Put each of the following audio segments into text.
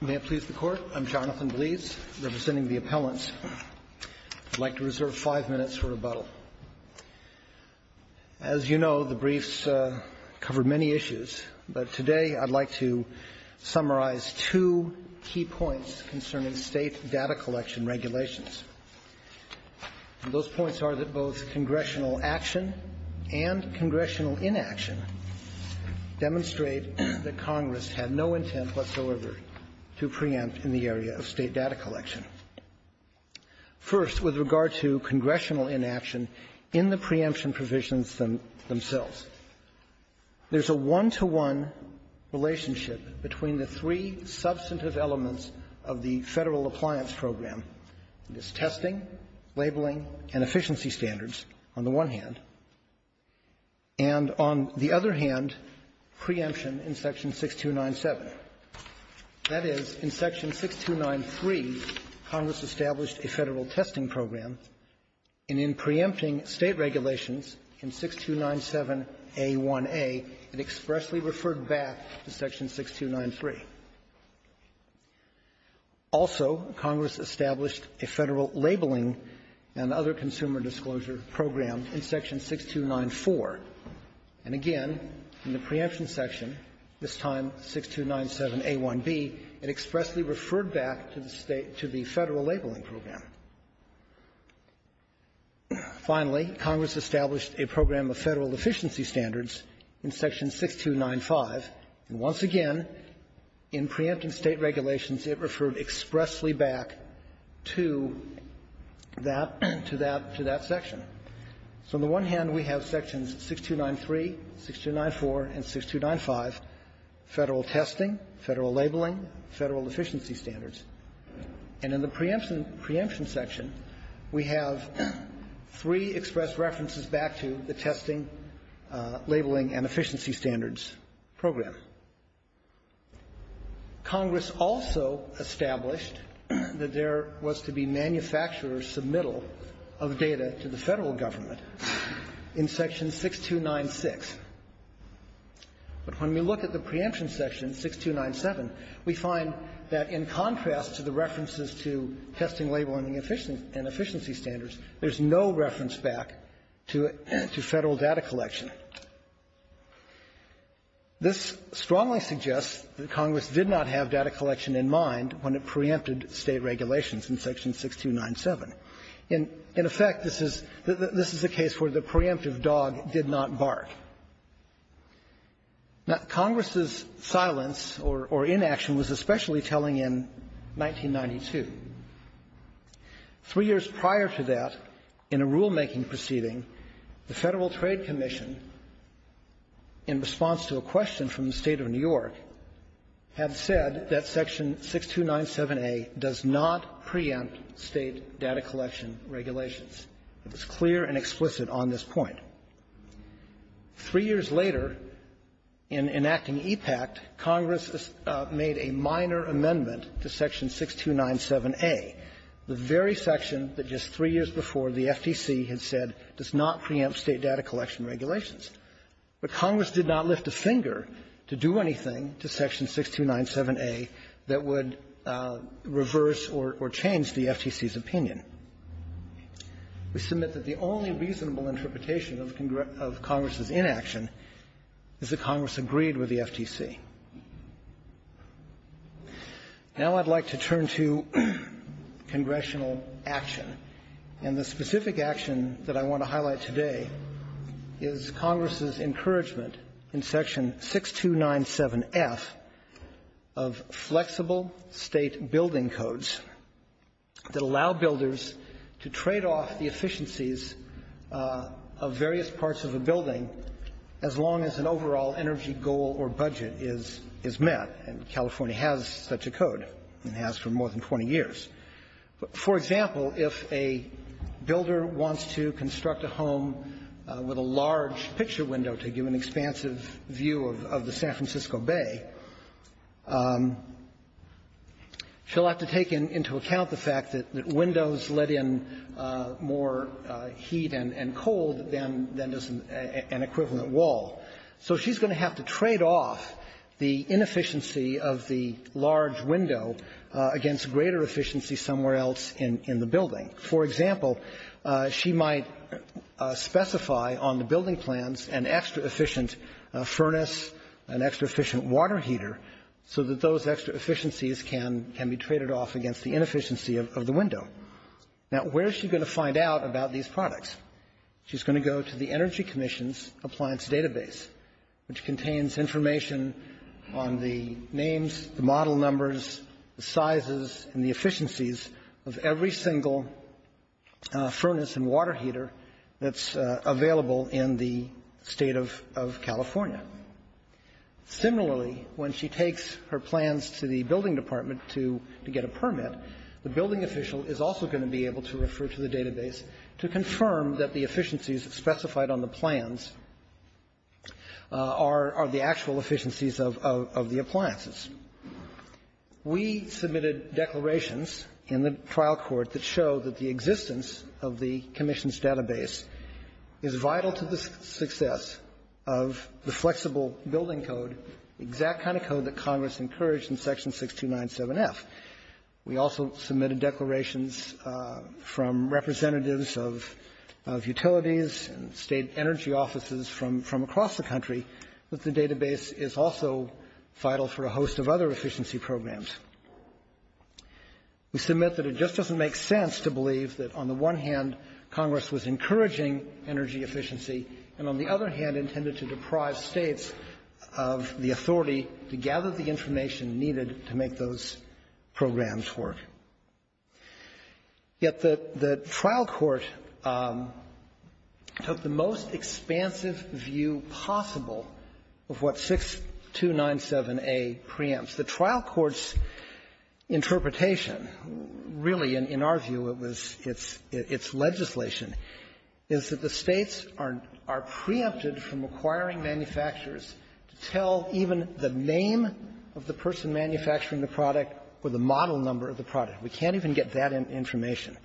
May it please the Court, I'm Jonathan Bleeds, representing the appellants. I'd like to reserve five minutes for rebuttal. As you know, the briefs cover many issues, but today I'd like to summarize two key points concerning state data collection regulations. Those points are that both congressional action and congressional inaction demonstrate that Congress had no intent whatsoever to preempt in the area of state data collection. First, with regard to congressional inaction in the preemption provisions themselves, there's a one-to-one relationship between the three substantive elements of the Federal Appliance Program, that is, testing, labeling, and efficiency standards, on the one hand, and on the other hand, preemption in Section 6297. That is, in Section 6293, Congress established a Federal testing program, and in preempting state regulations in 6297a1a, it expressly referred back to Section 6293. Also, Congress established a Federal labeling and other consumer disclosure program in Section 6294. And again, in the preemption section, this time 6297a1b, it expressly referred back to the State to the Federal labeling program. Finally, Congress established a program of Federal efficiency standards in Section 6295, and once again, in preempting state regulations, it referred expressly back to that to that section. So on the one hand, we have Sections 6293, 6294, and 6295, Federal testing, Federal labeling, Federal efficiency standards. And in the preemption section, we have three express references back to the testing, labeling, and efficiency standards program. Congress also established that there was to be manufacturer submittal of data to the Federal government in Section 6296. But when we look at the preemption section, Section 6297, we find that in contrast to the references to testing, labeling, and efficiency standards, there's no reference back to Federal data collection. This strongly suggests that Congress did not have data collection in mind when it preempted state regulations in Section 6297. In effect, this is a case where the preemptive dog did not bark. Now, Congress's silence or inaction was especially telling in 1992. Three years prior to that, in a rulemaking proceeding, the Federal Trade Commission, in response to a question from the State of New York, had said that Section 6297a does not preempt state data collection regulations. It was clear and explicit on this point. Three years later, in enacting EPACT, Congress made a minor amendment to Section 6297a, the very section that just three years before the FTC had said does not preempt state data collection regulations. But Congress did not lift a finger to do anything to Section 6297a that would reverse or change the FTC's opinion. We submit that the only reasonable interpretation of Congress's inaction is that Congress agreed with the FTC. Now I'd like to turn to congressional action. And the specific action that I want to highlight today is Congress's encouragement in Section 6297f of flexible State building codes that allow builders to trade off the efficiencies of various parts of a building as long as an overall energy goal or budget is met. And California has such a code, and has for more than 20 years. For example, if a builder wants to construct a home on the property with a large picture window to give an expansive view of the San Francisco Bay, she'll have to take into account the fact that windows let in more heat and cold than does an equivalent wall. So she's going to have to trade off the inefficiency of the large window against greater efficiency somewhere else in the building. For example, she might specify on the building plans an extra-efficient furnace, an extra-efficient water heater, so that those extra efficiencies can be traded off against the inefficiency of the window. Now, where is she going to find out about these products? She's going to go to the Energy Commission's Appliance Database, which contains information on the names, the model numbers, the sizes, and the efficiencies of every single furnace and water heater that's available in the State of California. Similarly, when she takes her plans to the building department to get a permit, the building official is also going to be able to refer to the database to confirm that the efficiencies specified on the plans are the actual efficiencies of the appliances. We submitted declarations in the trial court that show that the existence of the commission's database is vital to the success of the flexible building code, the exact kind of code that Congress encouraged in Section 6297F. We also submitted declarations from representatives of utilities and State energy offices from across the country that the database is also vital for a host of other efficiency programs. We submit that it just doesn't make sense to believe that on the one hand, Congress was encouraging energy efficiency and, on the other hand, intended to deprive States of the authority to gather the information needed to make those programs work. Yet the trial court took the most expansive view possible of what 6297A preempts. The trial court's interpretation really, in our view, it was its legislation, is that the States are not going to be from acquiring manufacturers to tell even the name of the person manufacturing the product or the model number of the product. We can't even get that information.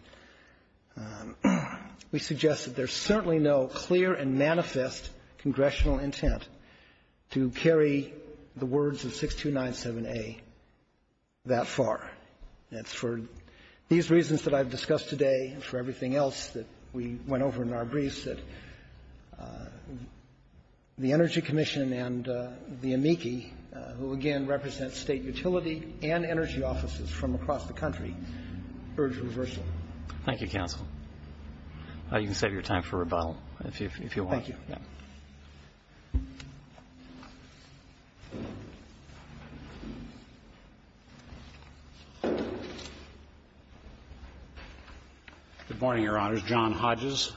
We suggest that there's certainly no clear and manifest congressional intent to carry the words of 6297A that far. And it's for these reasons that I've discussed today, and for everything else that we went over in our briefs, that the Energy Commission and the amici, who again represent State utility and energy offices from across the country, urge reversal. Thank you, counsel. You can save your time for rebuttal if you want. Thank you. Thank you. Good morning, Your Honors. John Hodges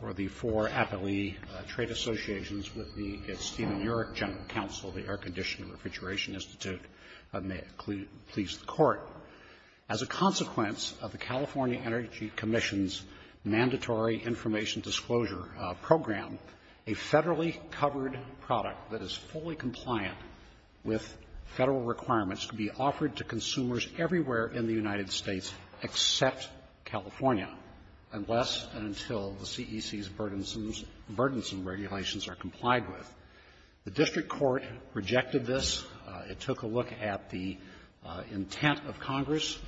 for the Four Appellee Trade Associations with the Stephen Yurek General Counsel of the Air Conditioning Refrigeration Institute, and may it please the Court. As a consequence of the California Energy Commission's mandatory information disclosure program, a Federally covered product that is fully compliant with Federal requirements can be offered to consumers everywhere in the United States except California, unless and until the CEC's burdensome regulations are complied with. The district court rejected this. It took a look at the intent of Congress,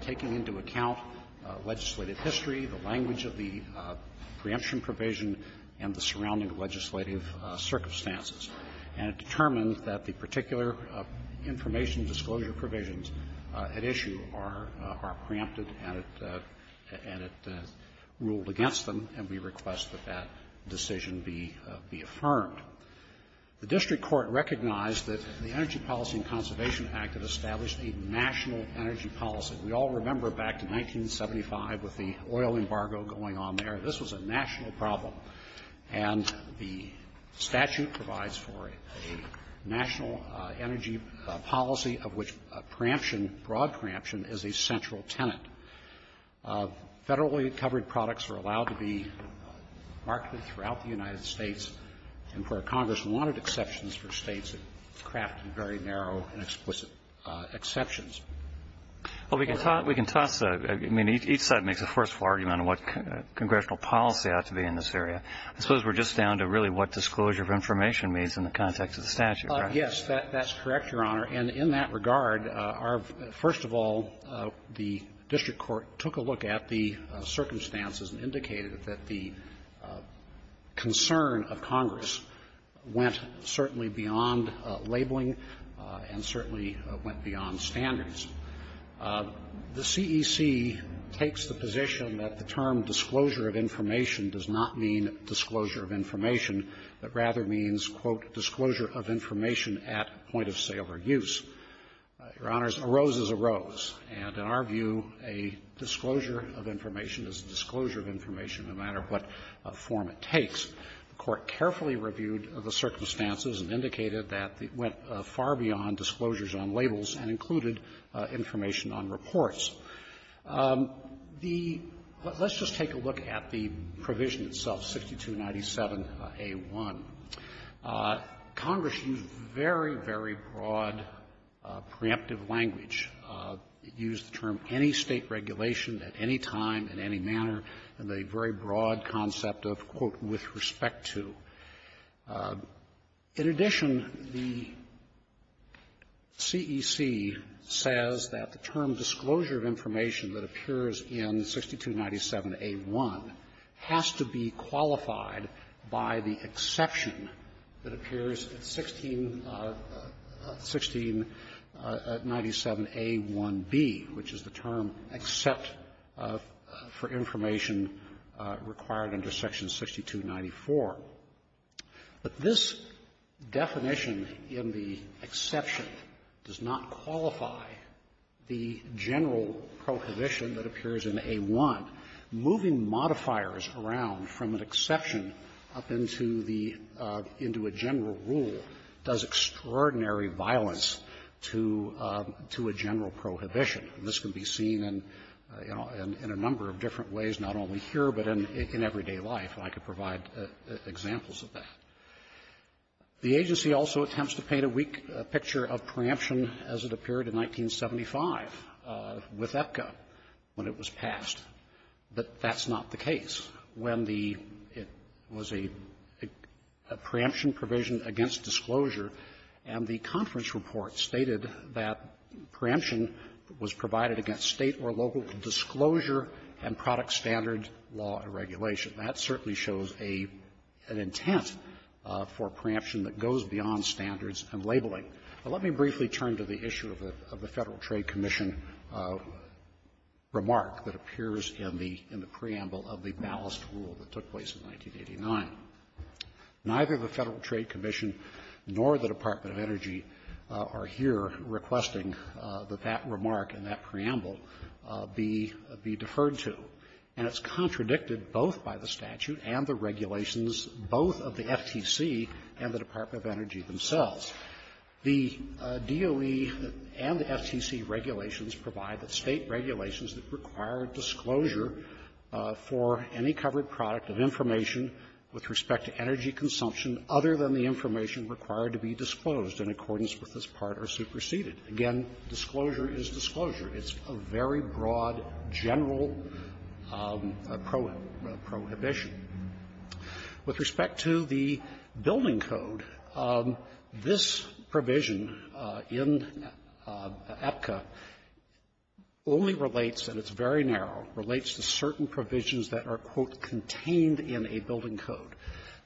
taking into account the Federal legislative history, the language of the preemption provision, and the surrounding legislative circumstances, and it determined that the particular information disclosure provisions at issue are preempted and it ruled against them, and we request that that decision be affirmed. The district court recognized that the Energy Policy and Conservation Act had established a national energy policy. We all remember back to 1975 with the oil embargo going on there. This was a national problem, and the statute provides for a national energy policy of which preemption, broad preemption, is a central tenet. Federally covered products are allowed to be marketed throughout the United States, and where Congress wanted exceptions for these very narrow and explicit exceptions. Well, we can toss a – I mean, each side makes a forceful argument on what congressional policy ought to be in this area. I suppose we're just down to really what disclosure of information means in the context of the statute, right? Yes. That's correct, Your Honor. And in that regard, our – first of all, the district court took a look at the circumstances and indicated that the concern of Congress went certainly beyond labeling and certainly went beyond standards. The CEC takes the position that the term disclosure of information does not mean disclosure of information, but rather means, quote, disclosure of information at point of sale or use. Your Honors, a rose is a rose. And in our view, a disclosure of information is a disclosure of information no matter what form it takes. The Court carefully reviewed the circumstances and indicated that it went far beyond disclosures on labels and included information on reports. The – let's just take a look at the provision itself, 6297a1. Congress used very, very broad, preemptive language. It used the term any State regulation in any manner and a very broad concept of, quote, with respect to. In addition, the CEC says that the term disclosure of information that appears in 6297a1 has to be qualified by the exception that appears at 16 – 1697a1b, which is the term except for information required under section 6294. But this definition in the exception does not qualify the general prohibition that appears in a1. Moving modifiers around from an exception up into the – into a general rule does extraordinary violence to – to a general prohibition. And this can be seen in, you know, in a number of different ways, not only here but in everyday life, and I could provide examples of that. The agency also attempts to paint a weak picture of preemption as it appeared in 1975 with EPCA when it was passed. But that's not the case. When the – it was a preemption provision against disclosure, and the conference report stated that preemption was provided against State or local disclosure and product standard law and regulation. That certainly shows an intent for preemption that goes beyond standards and labeling. Now, let me briefly turn to the issue of the Federal Trade Commission remark that appears in the – in the preamble of the ballast rule that took place in 1989. Neither the Federal Trade Commission nor the Department of Energy are here requesting that that remark in that preamble be – be deferred to. And it's contradicted both by the statute and the regulations, both of the FTC and the Department of Energy themselves. The DOE and the FTC regulations provide that State regulations that require disclosure for any covered product of information with respect to energy consumption other than the information required to be disclosed in accordance with this part are superseded. Again, disclosure is disclosure. It's a very broad, general prohibition. With respect to the building code, this provision in EPCA only relates, and it's very narrow, relates to certain provisions that are, quote, contained in a building code.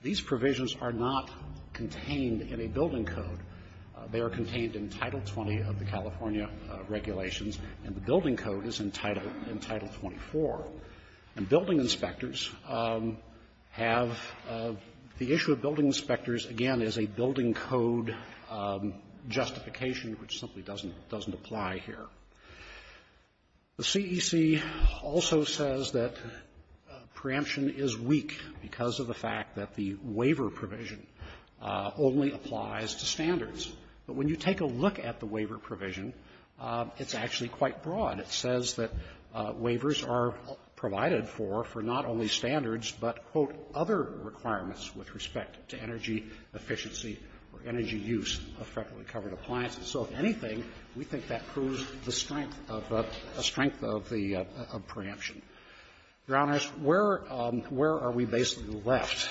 These provisions are not contained in a building code. They are contained in Title 20 of the California regulations, and the building code is in Title – in Title 24. And building inspectors have – the issue of building inspectors, again, is a building code justification which simply doesn't – doesn't is weak because of the fact that the waiver provision only applies to standards. But when you take a look at the waiver provision, it's actually quite broad. It says that waivers are provided for, for not only standards, but, quote, other requirements with respect to energy efficiency or energy use of federally covered appliances. So if anything, we think that proves the strength of the – the strength of the preemption. Your Honors, where – where are we basically left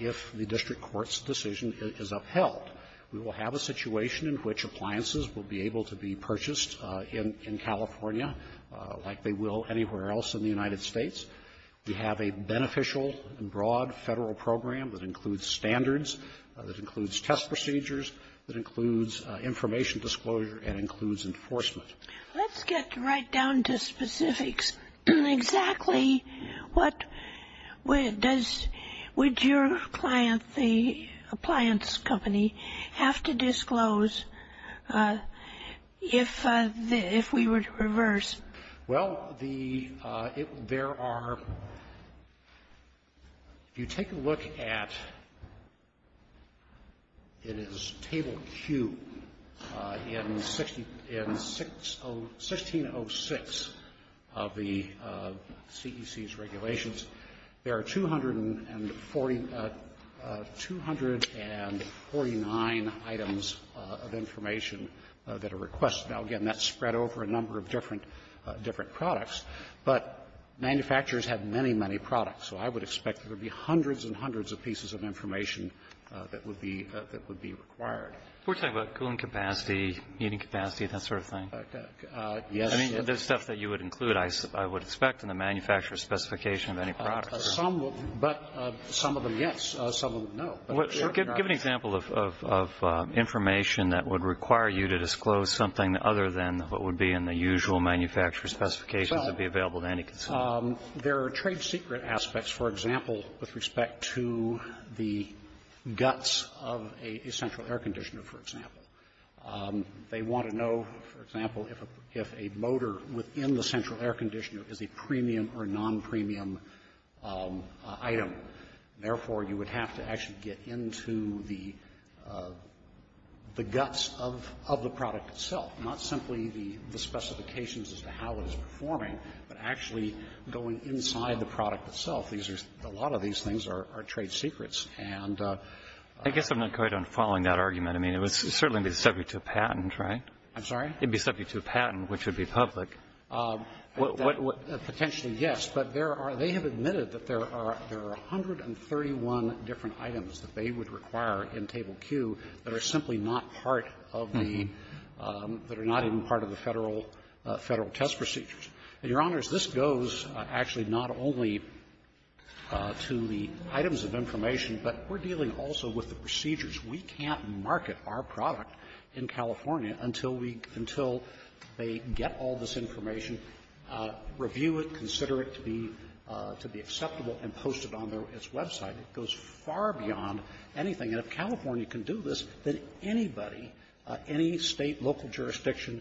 if the district court's decision is upheld? We will have a situation in which appliances will be able to be purchased in California like they will anywhere else in the United States. We have a beneficial and broad Federal program that includes standards, that includes test procedures, that includes information disclosure, and includes enforcement. Let's get right down to specifics. Exactly what does – would your client, the appliance company, have to disclose if – if we were to reverse? Well, the – there are – if you take a look at – it is Table Q in 1606 of the CEC's regulations, there are 249 items of information that are requested. Now, again, that's spread over a number of different – different products, but manufacturers have many, many products. So I would expect there would be hundreds and hundreds of pieces of information that would be – that would be required. We're talking about cooling capacity, heating capacity, that sort of thing? Yes. I mean, the stuff that you would include, I would expect in the manufacturer's specification of any products. Some will, but some of them, yes. Some of them, no. Well, give an example of information that would require you to disclose something other than what would be in the usual manufacturer's specifications that would be available to any consumer. There are trade-secret aspects, for example, with respect to the guts of a central air conditioner, for example. They want to know, for example, if a – if a motor within the central air conditioner is a premium or non-premium item. Therefore, you would have to actually get into the guts of the product itself, not simply the specifications as to how it is performing, but actually going inside the product itself. These are – a lot of these things are trade secrets. And the – I guess I'm not quite on following that argument. I mean, it would certainly be subject to a patent, right? I'm sorry? It would be subject to a patent, which would be public. What – Well, Your Honor, I'm interested that there are 131 different items that they would require in Table Q that are simply not part of the – that are not even part of the Federal – Federal test procedures. And, Your Honors, this goes actually not only to the items of information, but we're dealing also with the procedures. We can't market our product in California until we – until they get all this information, review it, consider it to be – to be acceptable, and post it on their – its website. It goes far beyond anything. And if California can do this, then anybody, any State, local jurisdiction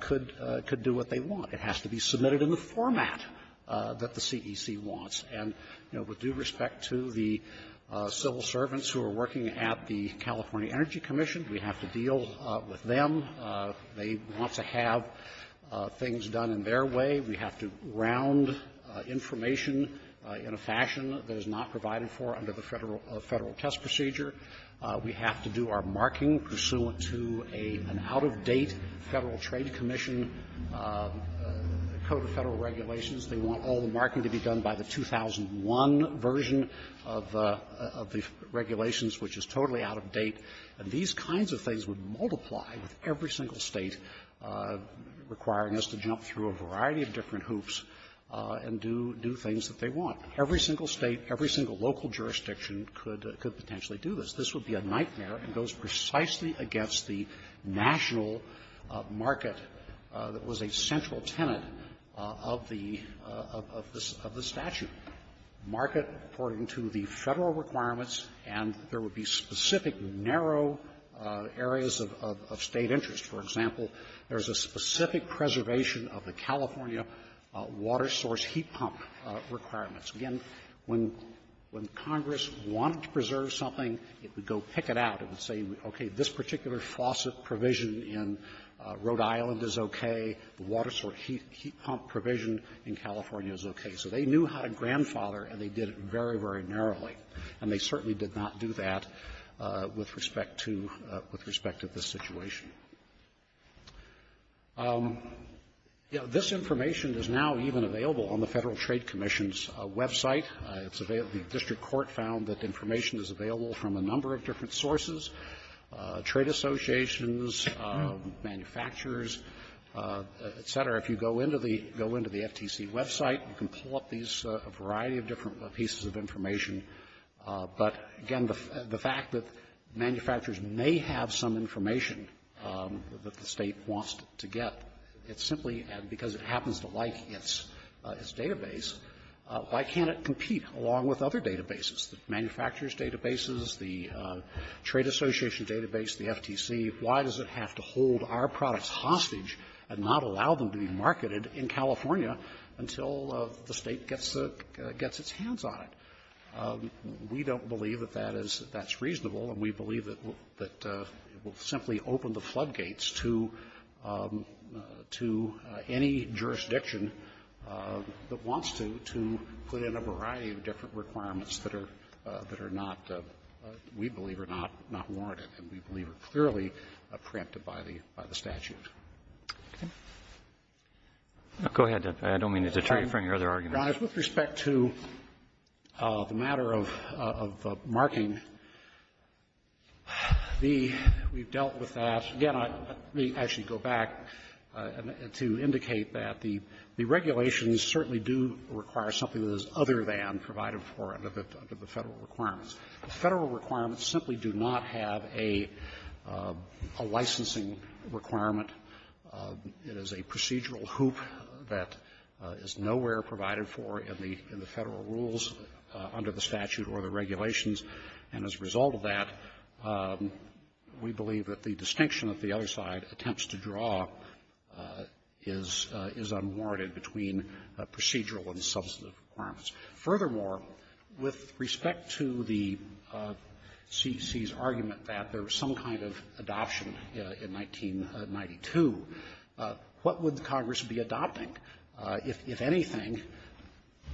could – could do what they want. It has to be submitted in the format that the CEC wants. And, you know, with due respect to the civil servants who are working at the California Energy Commission, we have to deal with them. They want to have things done in their way. We have to round information in a fashion that is not provided for under the Federal – Federal test procedure. We have to do our marking pursuant to a – an out-of-date Federal Trade Commission code of Federal regulations. They want all the marking to be done by the 2001 version of the – of the regulations, which is totally out-of-date. And these kinds of things would multiply with every single State requiring us to jump through a variety of different hoops and do – do things that they want. Every single State, every single local jurisdiction could – could potentially do this. This would be a nightmare. It goes precisely against the national market that was a central tenant of the – of the statute. The market, according to the Federal requirements, and there would be specific narrow areas of – of State interest. For example, there's a specific preservation of the California water source heat pump requirements. Again, when – when Congress wanted to preserve something, it would go pick it out. It would say, okay, this particular faucet provision in Rhode Island is okay. The water source heat – heat pump provision in California is okay. So they knew how to grandfather, and they did it very, very narrowly. And they certainly did not do that with respect to – with respect to this situation. You know, this information is now even available on the Federal Trade Commission's website. It's available – the district court found that information is available from a number of different sources, trade associations, manufacturers, et cetera. If you go into the – go into the FTC website, you can pull up these – a variety of different pieces of information. But, again, the – the fact that manufacturers may have some information that the State wants to get, it's simply because it happens to like its – its database. Why can't it compete along with other databases, the manufacturers' databases, the trade association database, the FTC? Why does it have to hold our products hostage and not allow them to be used in the same way? Why can't it be marketed in California until the State gets – gets its hands on it? We don't believe that that is – that's reasonable, and we believe that it will simply open the floodgates to – to any jurisdiction that wants to, to put in a variety of different requirements that are – that are not – we believe are not – not warranted, and we believe are clearly preempted by the – by the statute. Roberts. Go ahead. I don't mean to deter you from your other arguments. With respect to the matter of – of marking, the – we've dealt with that. Again, I – let me actually go back to indicate that the – the regulations certainly do require something that is other than provided for under the – under the Federal requirements. The Federal requirements simply do not have a licensing requirement. It is a procedural hoop that is nowhere provided for in the – in the Federal rules under the statute or the regulations, and as a result of that, we believe that the distinction that the other side attempts to draw is – is unwarranted between procedural and substantive requirements. Furthermore, with respect to the CEC's argument that there was some kind of adoption in 1992, what would the Congress be adopting? If – if anything,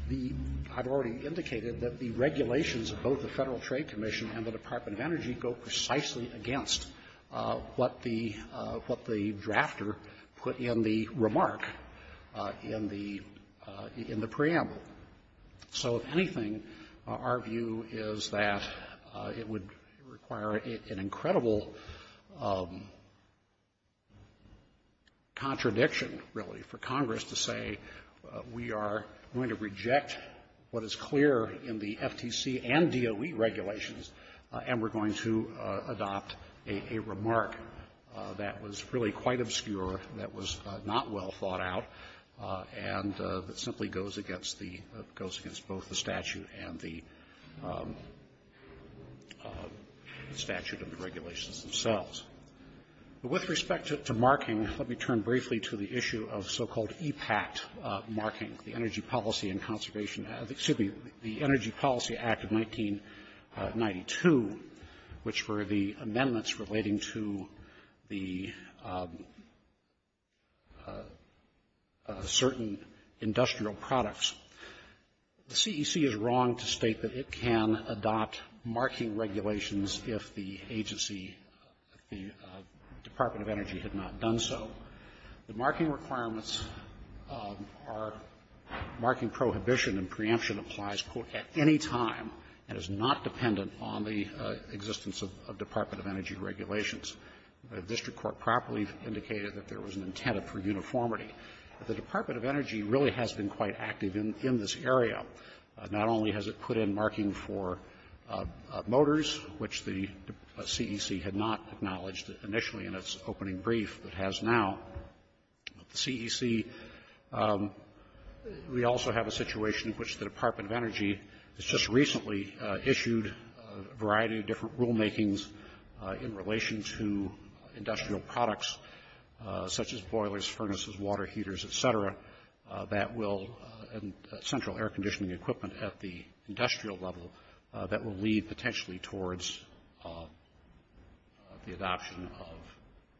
the – I've already indicated that the regulations of both the Federal Trade Commission and the Department of Energy go precisely against what the – what the drafter put in the remark in the – in the preamble. So if anything, our view is that it would require an incredible contradiction, really, for Congress to say we are going to reject what is clear in the FTC and DOE regulations, and we're going to adopt a – a remark that was really quite obscure, that was not well thought out, and that simply goes against the – goes against both the statute and the statute and the regulations themselves. With respect to – to marking, let me turn briefly to the issue of so-called EPACT marking, the Energy Policy and Conservation – excuse me, the Energy Policy Act of 1992, which were the amendments relating to the – certain industrial products. The CEC is wrong to state that it can adopt marking regulations if the agency, the Department of Energy, had not done so. The marking requirements are – marking prohibition and preemption applies, quote, at any time, and is not dependent on the existence of Department of Energy regulations. The district court properly indicated that there was an intent for uniformity. The Department of Energy really has been quite active in – in this area. Not only has it put in marking for motors, which the CEC had not acknowledged initially in its opening brief, but has now. At the CEC, we also have a situation in which the Department of Energy has just recently issued a variety of different rulemakings in relation to industrial products, such as that will – central air conditioning equipment at the industrial level that will lead potentially towards the adoption of,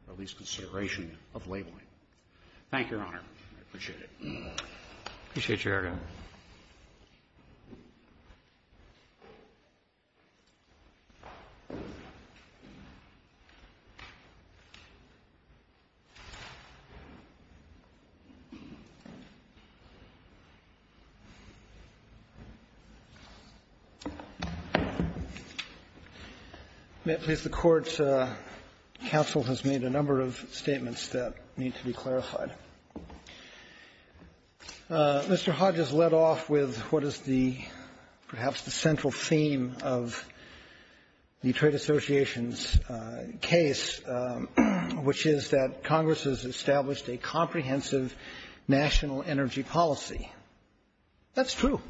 or at least consideration of, labeling. Thank you, Your Honor. I appreciate it. Roberts, please. I appreciate your hearing. May it please the Court, counsel has made a number of statements that need to be clarified. Mr. Hodges led off with what is the – perhaps the central theme of the Trade Association's case, which is that Congress has established a comprehensive national energy policy. That's true.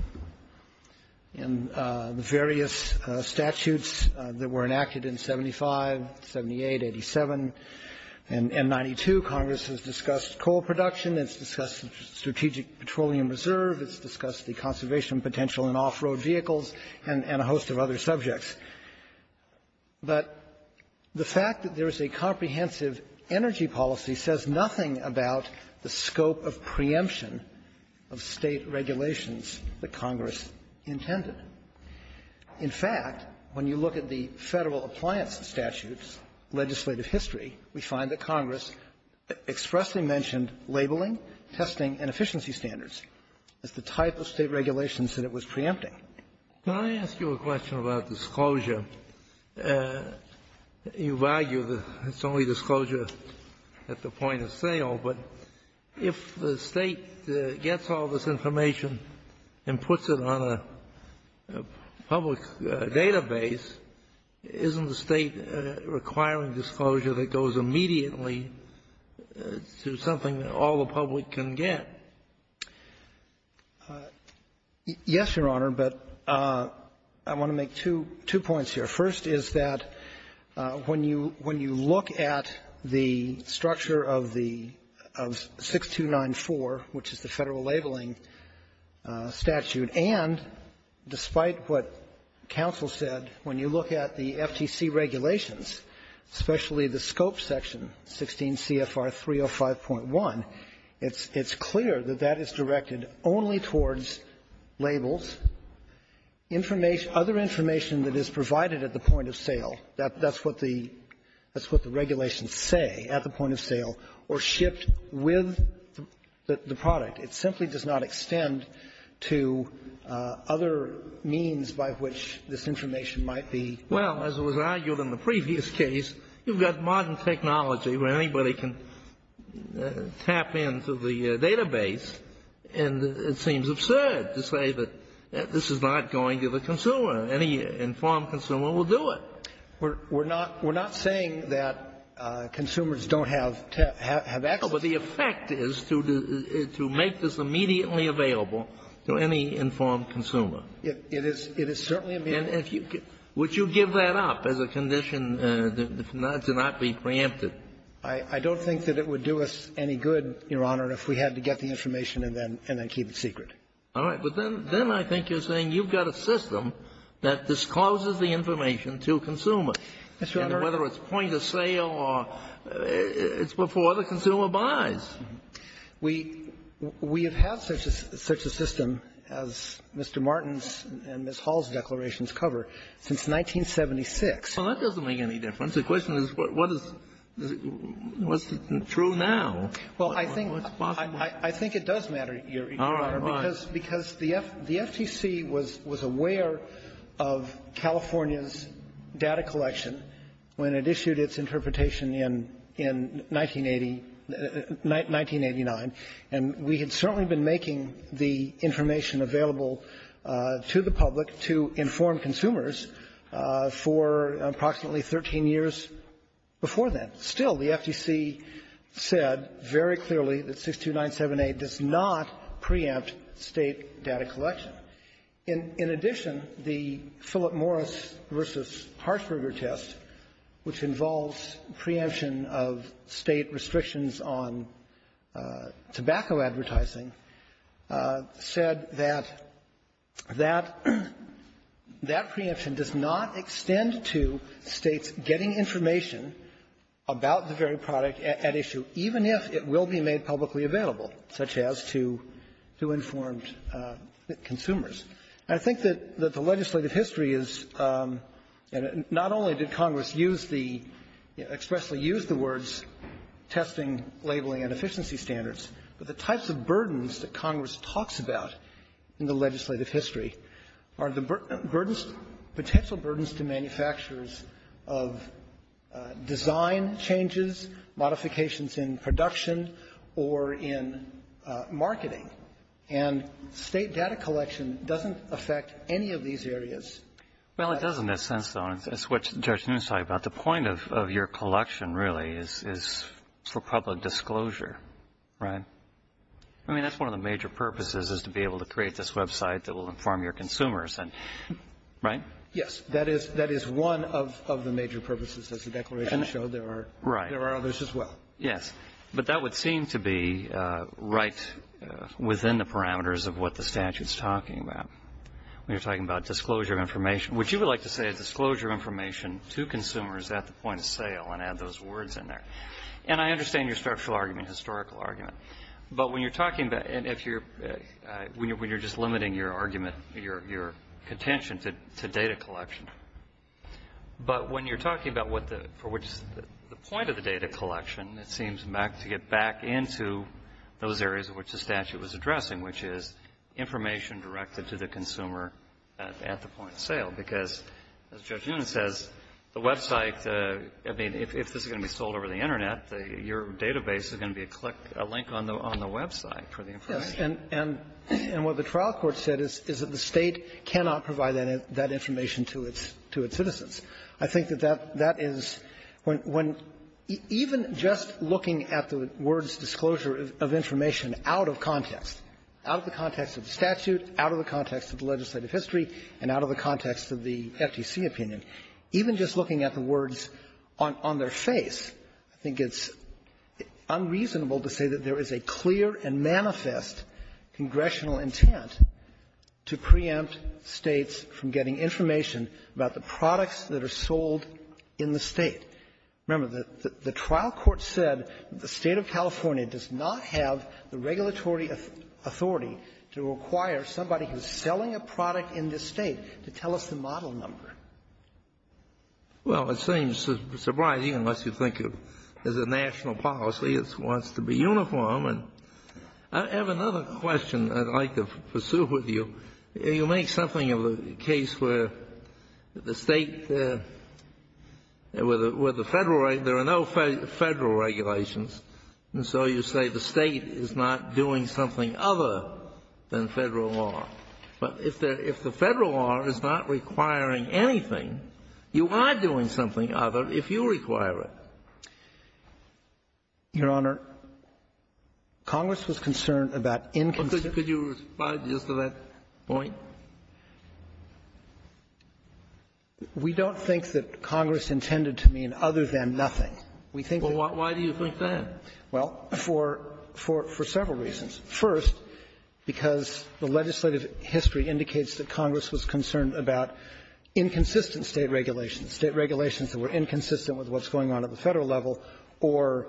In the various statutes that were enacted in 75, 78, 87, and 92, Congress has discussed coal production, it's discussed strategic petroleum reserve, it's discussed the conservation potential in off-road vehicles, and a host of other subjects. But the fact that there is a comprehensive energy policy says nothing about the scope of preemption of State regulations that Congress intended. In fact, when you look at the Federal Appliance Statute's legislative history, we find that Congress expressly mentioned labeling, testing, and efficiency standards as the type of State regulations that it was preempting. Can I ask you a question about disclosure? You've argued it's only disclosure at the point of sale, but if the State gets all this information and puts it on a public database, isn't the State requiring disclosure that goes immediately to something that all the public can get? Yes, Your Honor, but I want to make two – two points here. First is that when you – when you look at the structure of the – of 6294, which is the Federal labeling statute, and despite what counsel said, when you look at the FTC regulations, especially the scope section, 16 CFR 305.1, it's – it's clear that that is directed only towards labels, information – other information that is provided at the point of sale. That – that's what the – that's what the regulations say at the point of sale, or shipped with the – the product. It simply does not extend to other means by which this information might be – Well, as it was argued in the previous case, you've got modern technology where anybody can tap into the database, and it seems absurd to say that this is not going to the consumer. Any informed consumer will do it. We're – we're not – we're not saying that consumers don't have – have access to it. No, but the effect is to – to make this immediately available to any informed consumer. It is – it is certainly a – And if you – would you give that up as a condition to not be preempted? I – I don't think that it would do us any good, Your Honor, if we had to get the information and then – and then keep it secret. All right. But then – then I think you're saying you've got a system that discloses the information to consumers. Yes, Your Honor. And whether it's point of sale or – it's before the consumer buys. We – we have had such a – such a system, as Mr. Martin's and Ms. Hall's declarations cover, since 1976. Well, that doesn't make any difference. The question is, what is – what's true now? Well, I think – I think it does matter, Your Honor. All right. Because – because the – the FTC was – was aware of California's data collection when it issued its interpretation in – in 1980 – 1989, and we had certainly been making the information available to the public to inform consumers for approximately 13 years before then. Still, the FTC said very clearly that 62978 does not preempt state data collection. In – in addition, the Philip Morris v. Harshberger test, which involves preemption of state restrictions on tobacco advertising, said that – that – that preemption does not about the very product at issue, even if it will be made publicly available, such as to – to informed consumers. And I think that – that the legislative history is – and not only did Congress use the – expressly use the words testing, labeling, and efficiency standards, but the types of burdens that Congress talks about in the legislative history are the burdens – design changes, modifications in production, or in marketing. And state data collection doesn't affect any of these areas. Well, it doesn't in a sense, though, and it's what Judge Nunes talked about. The point of – of your collection, really, is – is for public disclosure, right? I mean, that's one of the major purposes, is to be able to create this website that will inform your consumers, and – right? Yes. That is – that is one of – of the major purposes, as the declaration showed. There are – there are others as well. Right. Yes. But that would seem to be right within the parameters of what the statute's talking about, when you're talking about disclosure of information, which you would like to say is disclosure of information to consumers at the point of sale and add those words in there. And I understand your structural argument, historical argument, but when you're talking about – and if you're – when you're just limiting your argument, your – your contention to – to data collection, but when you're talking about what the – for which the point of the data collection, it seems to get back into those areas in which the statute was addressing, which is information directed to the consumer at – at the point of sale. Because, as Judge Nunes says, the website – I mean, if – if this is going to be sold over the Internet, your database is going to be a click – a link on the – on the website for the information. And – and what the trial court said is – is that the State cannot provide that information to its – to its citizens. I think that that – that is when – when even just looking at the words disclosure of information out of context, out of the context of the statute, out of the context of the legislative history, and out of the context of the FTC opinion, even just looking at the words on their face, I think it's unreasonable to say that there is a clear and manifest congressional intent to preempt States from getting information about the products that are sold in the State. Remember, the – the trial court said the State of California does not have the regulatory authority to require somebody who's selling a product in this State to tell us the model number. Well, it seems surprising, unless you think of it as a national policy. It wants to be uniform. And I have another question I'd like to pursue with you. You make something of a case where the State – where the Federal – there are no Federal regulations, and so you say the State is not doing something other than Federal law. But if the Federal law is not requiring anything, you are doing something other if you require it. Your Honor, Congress was concerned about inconsistent – Well, could you respond just to that point? We don't think that Congress intended to mean other than nothing. We think that – Well, why do you think that? Well, for – for several reasons. First, because the legislative history indicates that Congress was concerned about inconsistent State regulations, State regulations that were inconsistent with what's going on at the Federal level or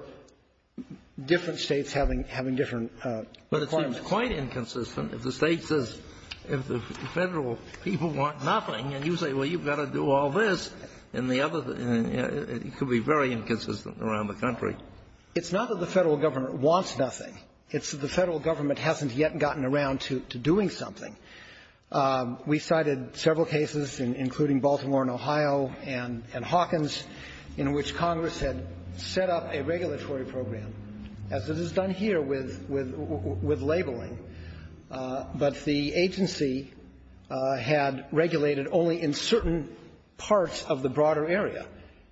different States having – having different requirements. But it seems quite inconsistent if the State says if the Federal people want nothing and you say, well, you've got to do all this and the other – it could be very inconsistent around the country. It's not that the Federal government wants nothing. It's that the Federal government hasn't yet gotten around to doing something. We cited several cases, including Baltimore and Ohio and – and Hawkins, in which Congress had set up a regulatory program, as it is done here with – with labeling. But the agency had regulated in certain parts of the broader area.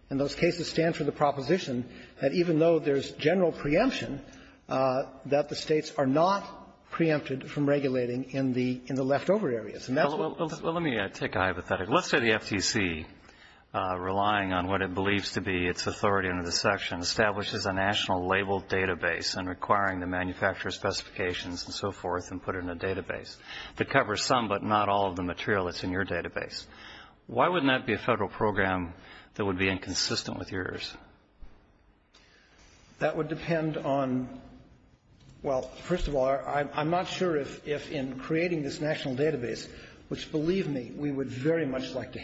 And those cases stand for the proposition that even though there's general preemption, that the States are not preempted from regulating in the – in the leftover areas. And that's what's – Well, let me take a hypothetical. Let's say the FTC, relying on what it believes to be its authority under this section, establishes a national labeled database and requiring the manufacturer's specifications and so forth and put it in a database that covers some but not all of the material that's in your database. Why wouldn't that be a Federal program that would be inconsistent with yours? That would depend on – well, first of all, I'm – I'm not sure if – if in creating this national database, which, believe me, we would very much like to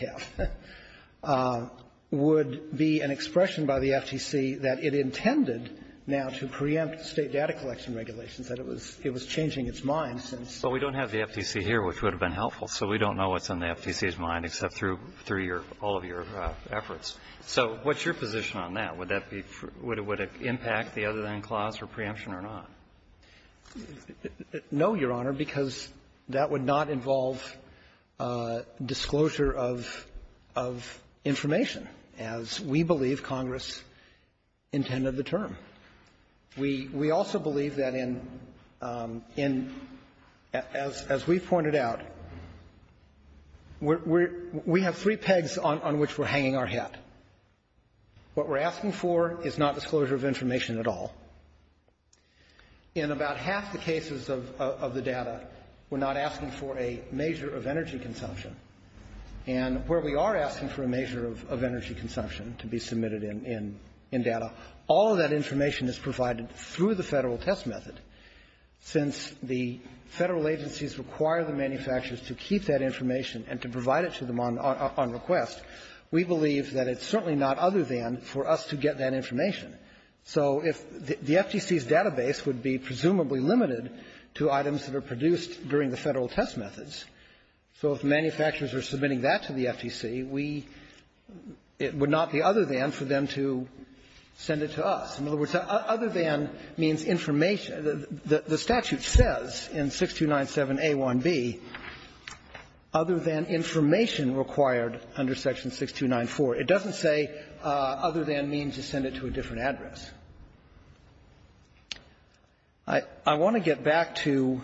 have, would be an expression by the FTC that it intended now to preempt State data collection regulations, that it was – it was changing its mind since – Well, we don't have the FTC here, which would have been helpful, so we don't know what's in the FTC's mind except through – through your – all of your efforts. So what's your position on that? Would that be – would it impact the other-than clause for preemption or not? No, Your Honor, because that would not involve disclosure of – of information as we believe Congress intended the term. We – we also believe that in – in – as – as we've pointed out, we're – we – we have three pegs on – on which we're hanging our hat. What we're asking for is not disclosure of information at all. In about half the cases of – of the data, we're not asking for a measure of energy consumption. And where we are asking for a measure of – of energy consumption to be submitted in – in – in data, all of that information is provided through the Federal test method. Since the Federal agencies require the manufacturers to keep that information and to provide it to them on – on request, we believe that it's certainly not other than for us to get that information. So if – the FTC's database would be presumably limited to items that are produced during the Federal test methods. So if manufacturers are submitting that to the FTC, we – it would not be other than for them to send it to us. In other words, other than means information – the – the statute says in 6297a1b, other than information required under section 6294. It doesn't say other than means to send it to a different address. I – I want to get back to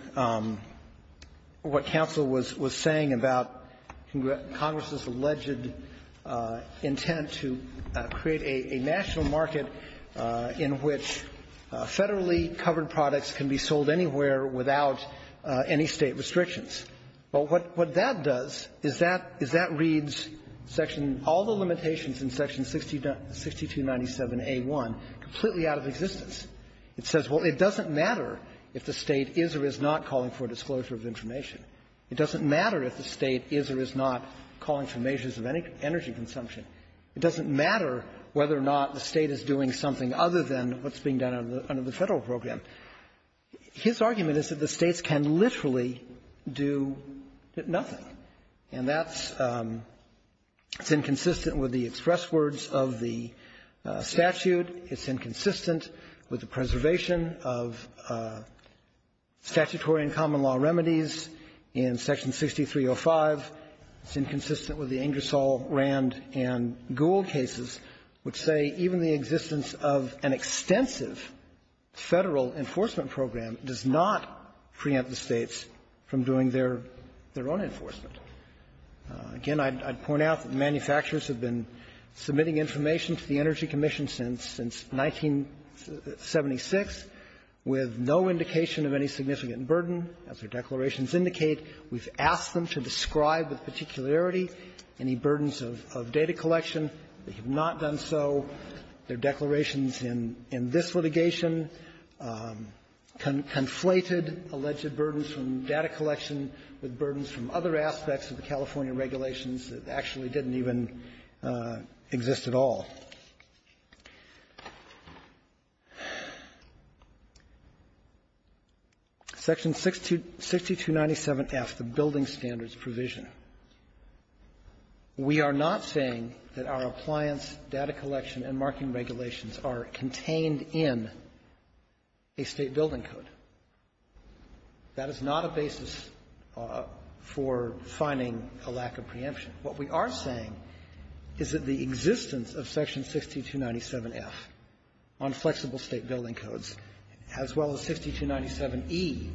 what counsel was – was saying about Congress's alleged intent to create a – a national market in which federally covered products can be sold anywhere without any State restrictions. But what – what that does is that – is that reads section – all the limitations in section 6297a1 completely out of existence. It says, well, it doesn't matter if the State is or is not calling for a disclosure of information. It doesn't matter if the State is doing something other than what's being done under the – under the Federal program. His argument is that the States can literally do nothing, and that's – it's inconsistent with the express words of the statute. It's inconsistent with the preservation of statutory and common-law remedies in section 6305. It's inconsistent with the Ingersoll, Rand, and Gould cases, which say even the existence of an extensive Federal enforcement program does not preempt the States from doing their – their own enforcement. Again, I'd – I'd point out that manufacturers have been submitting information to the Energy Commission since – since 1976 with no indication of any significant burden. As their declarations indicate, we've asked them to describe with particularity any burdens of – of data collection. They have not done so. Their declarations in – in this litigation conflated alleged burdens from data collection with burdens from other aspects of the California regulations that actually didn't even exist at all. Section 6297F, the Building Standards Provision. We are not saying that our appliance data collection and marking regulations are contained in a State building code. That is not a basis for finding a lack of preemption. What we are saying is that the existence of section 6297F on flexible State building codes, as well as 6297E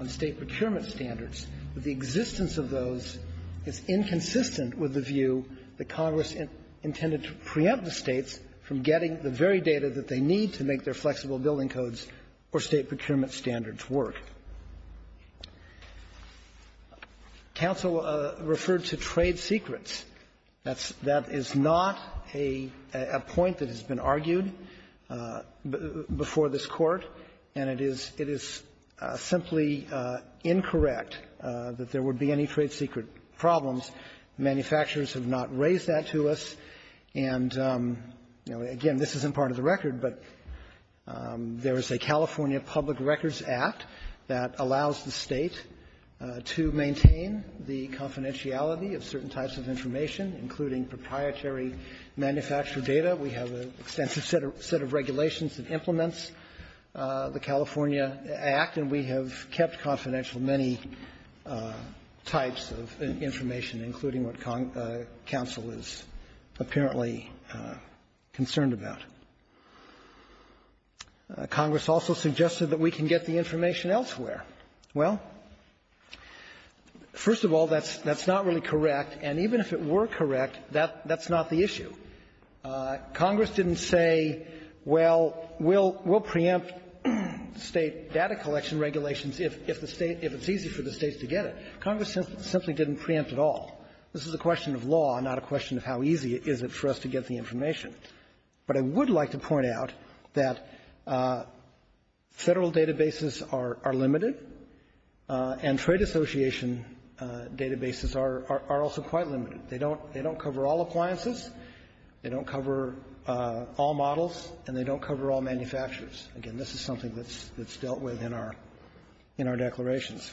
on State procurement standards, the existence of those is inconsistent with the view that Congress intended to preempt the States from getting the very data that they need to make their flexible building codes or State procurement standards work. Counsel referred to trade secrets. That's – that is not a – a point that has been argued before this Court, and it is – it is simply incorrect that there would be any trade secret problems. Manufacturers have not raised that to us. And, you know, again, this isn't part of the record, but there is a California Public Records Act that allows the State to maintain the confidentiality of certain types of information, including proprietary manufacturer data. We have an extensive set of regulations that implements the California Act, and we have kept confidential many types of information, including what counsel is apparently concerned about. Congress also suggested that we can get the information elsewhere. Well, first of all, that's – that's not really correct, and even if it were correct, that – that's not the issue. Congress didn't say, well, we'll – we'll preempt State data collection regulations if – if the State – if it's easy for the States to get it. Congress simply didn't preempt at all. This is a question of law, not a question of how easy is it for us to get the information. But I would like to point out that Federal databases are – are limited, and trade association databases are – are also quite limited. They don't – they don't cover all appliances, they don't cover all models, and they don't cover all manufacturers. Again, this is something that's – that's dealt with in our – in our declarations.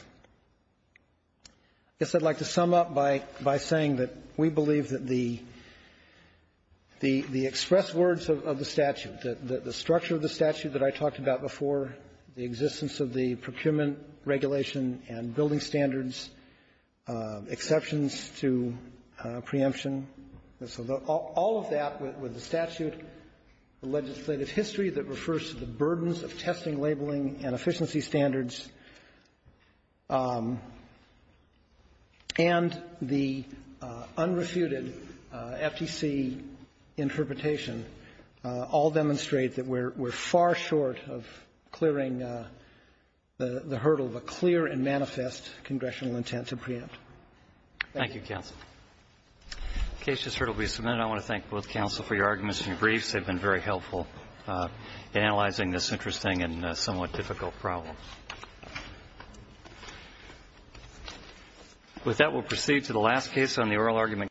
I guess I'd like to sum up by – by saying that we believe that the – the expressed words of the statute, the structure of the statute that I talked about before, the existence of the procurement regulation and building standards, exceptions to preemption, so the – all of that with the statute, the legislative history that refers to the burdens of testing, labeling, and efficiency standards, and the unrefuted FTC interpretation all demonstrate that we're – we're far short of clearing the hurdle of a clear and manifest congressional intent to preempt. Thank you. Thank you, counsel. The case just heard will be submitted. I want to thank both counsel for your arguments and your briefs. They've been very helpful in analyzing this interesting and somewhat difficult problem. With that, we'll proceed to the last case on the oral argument.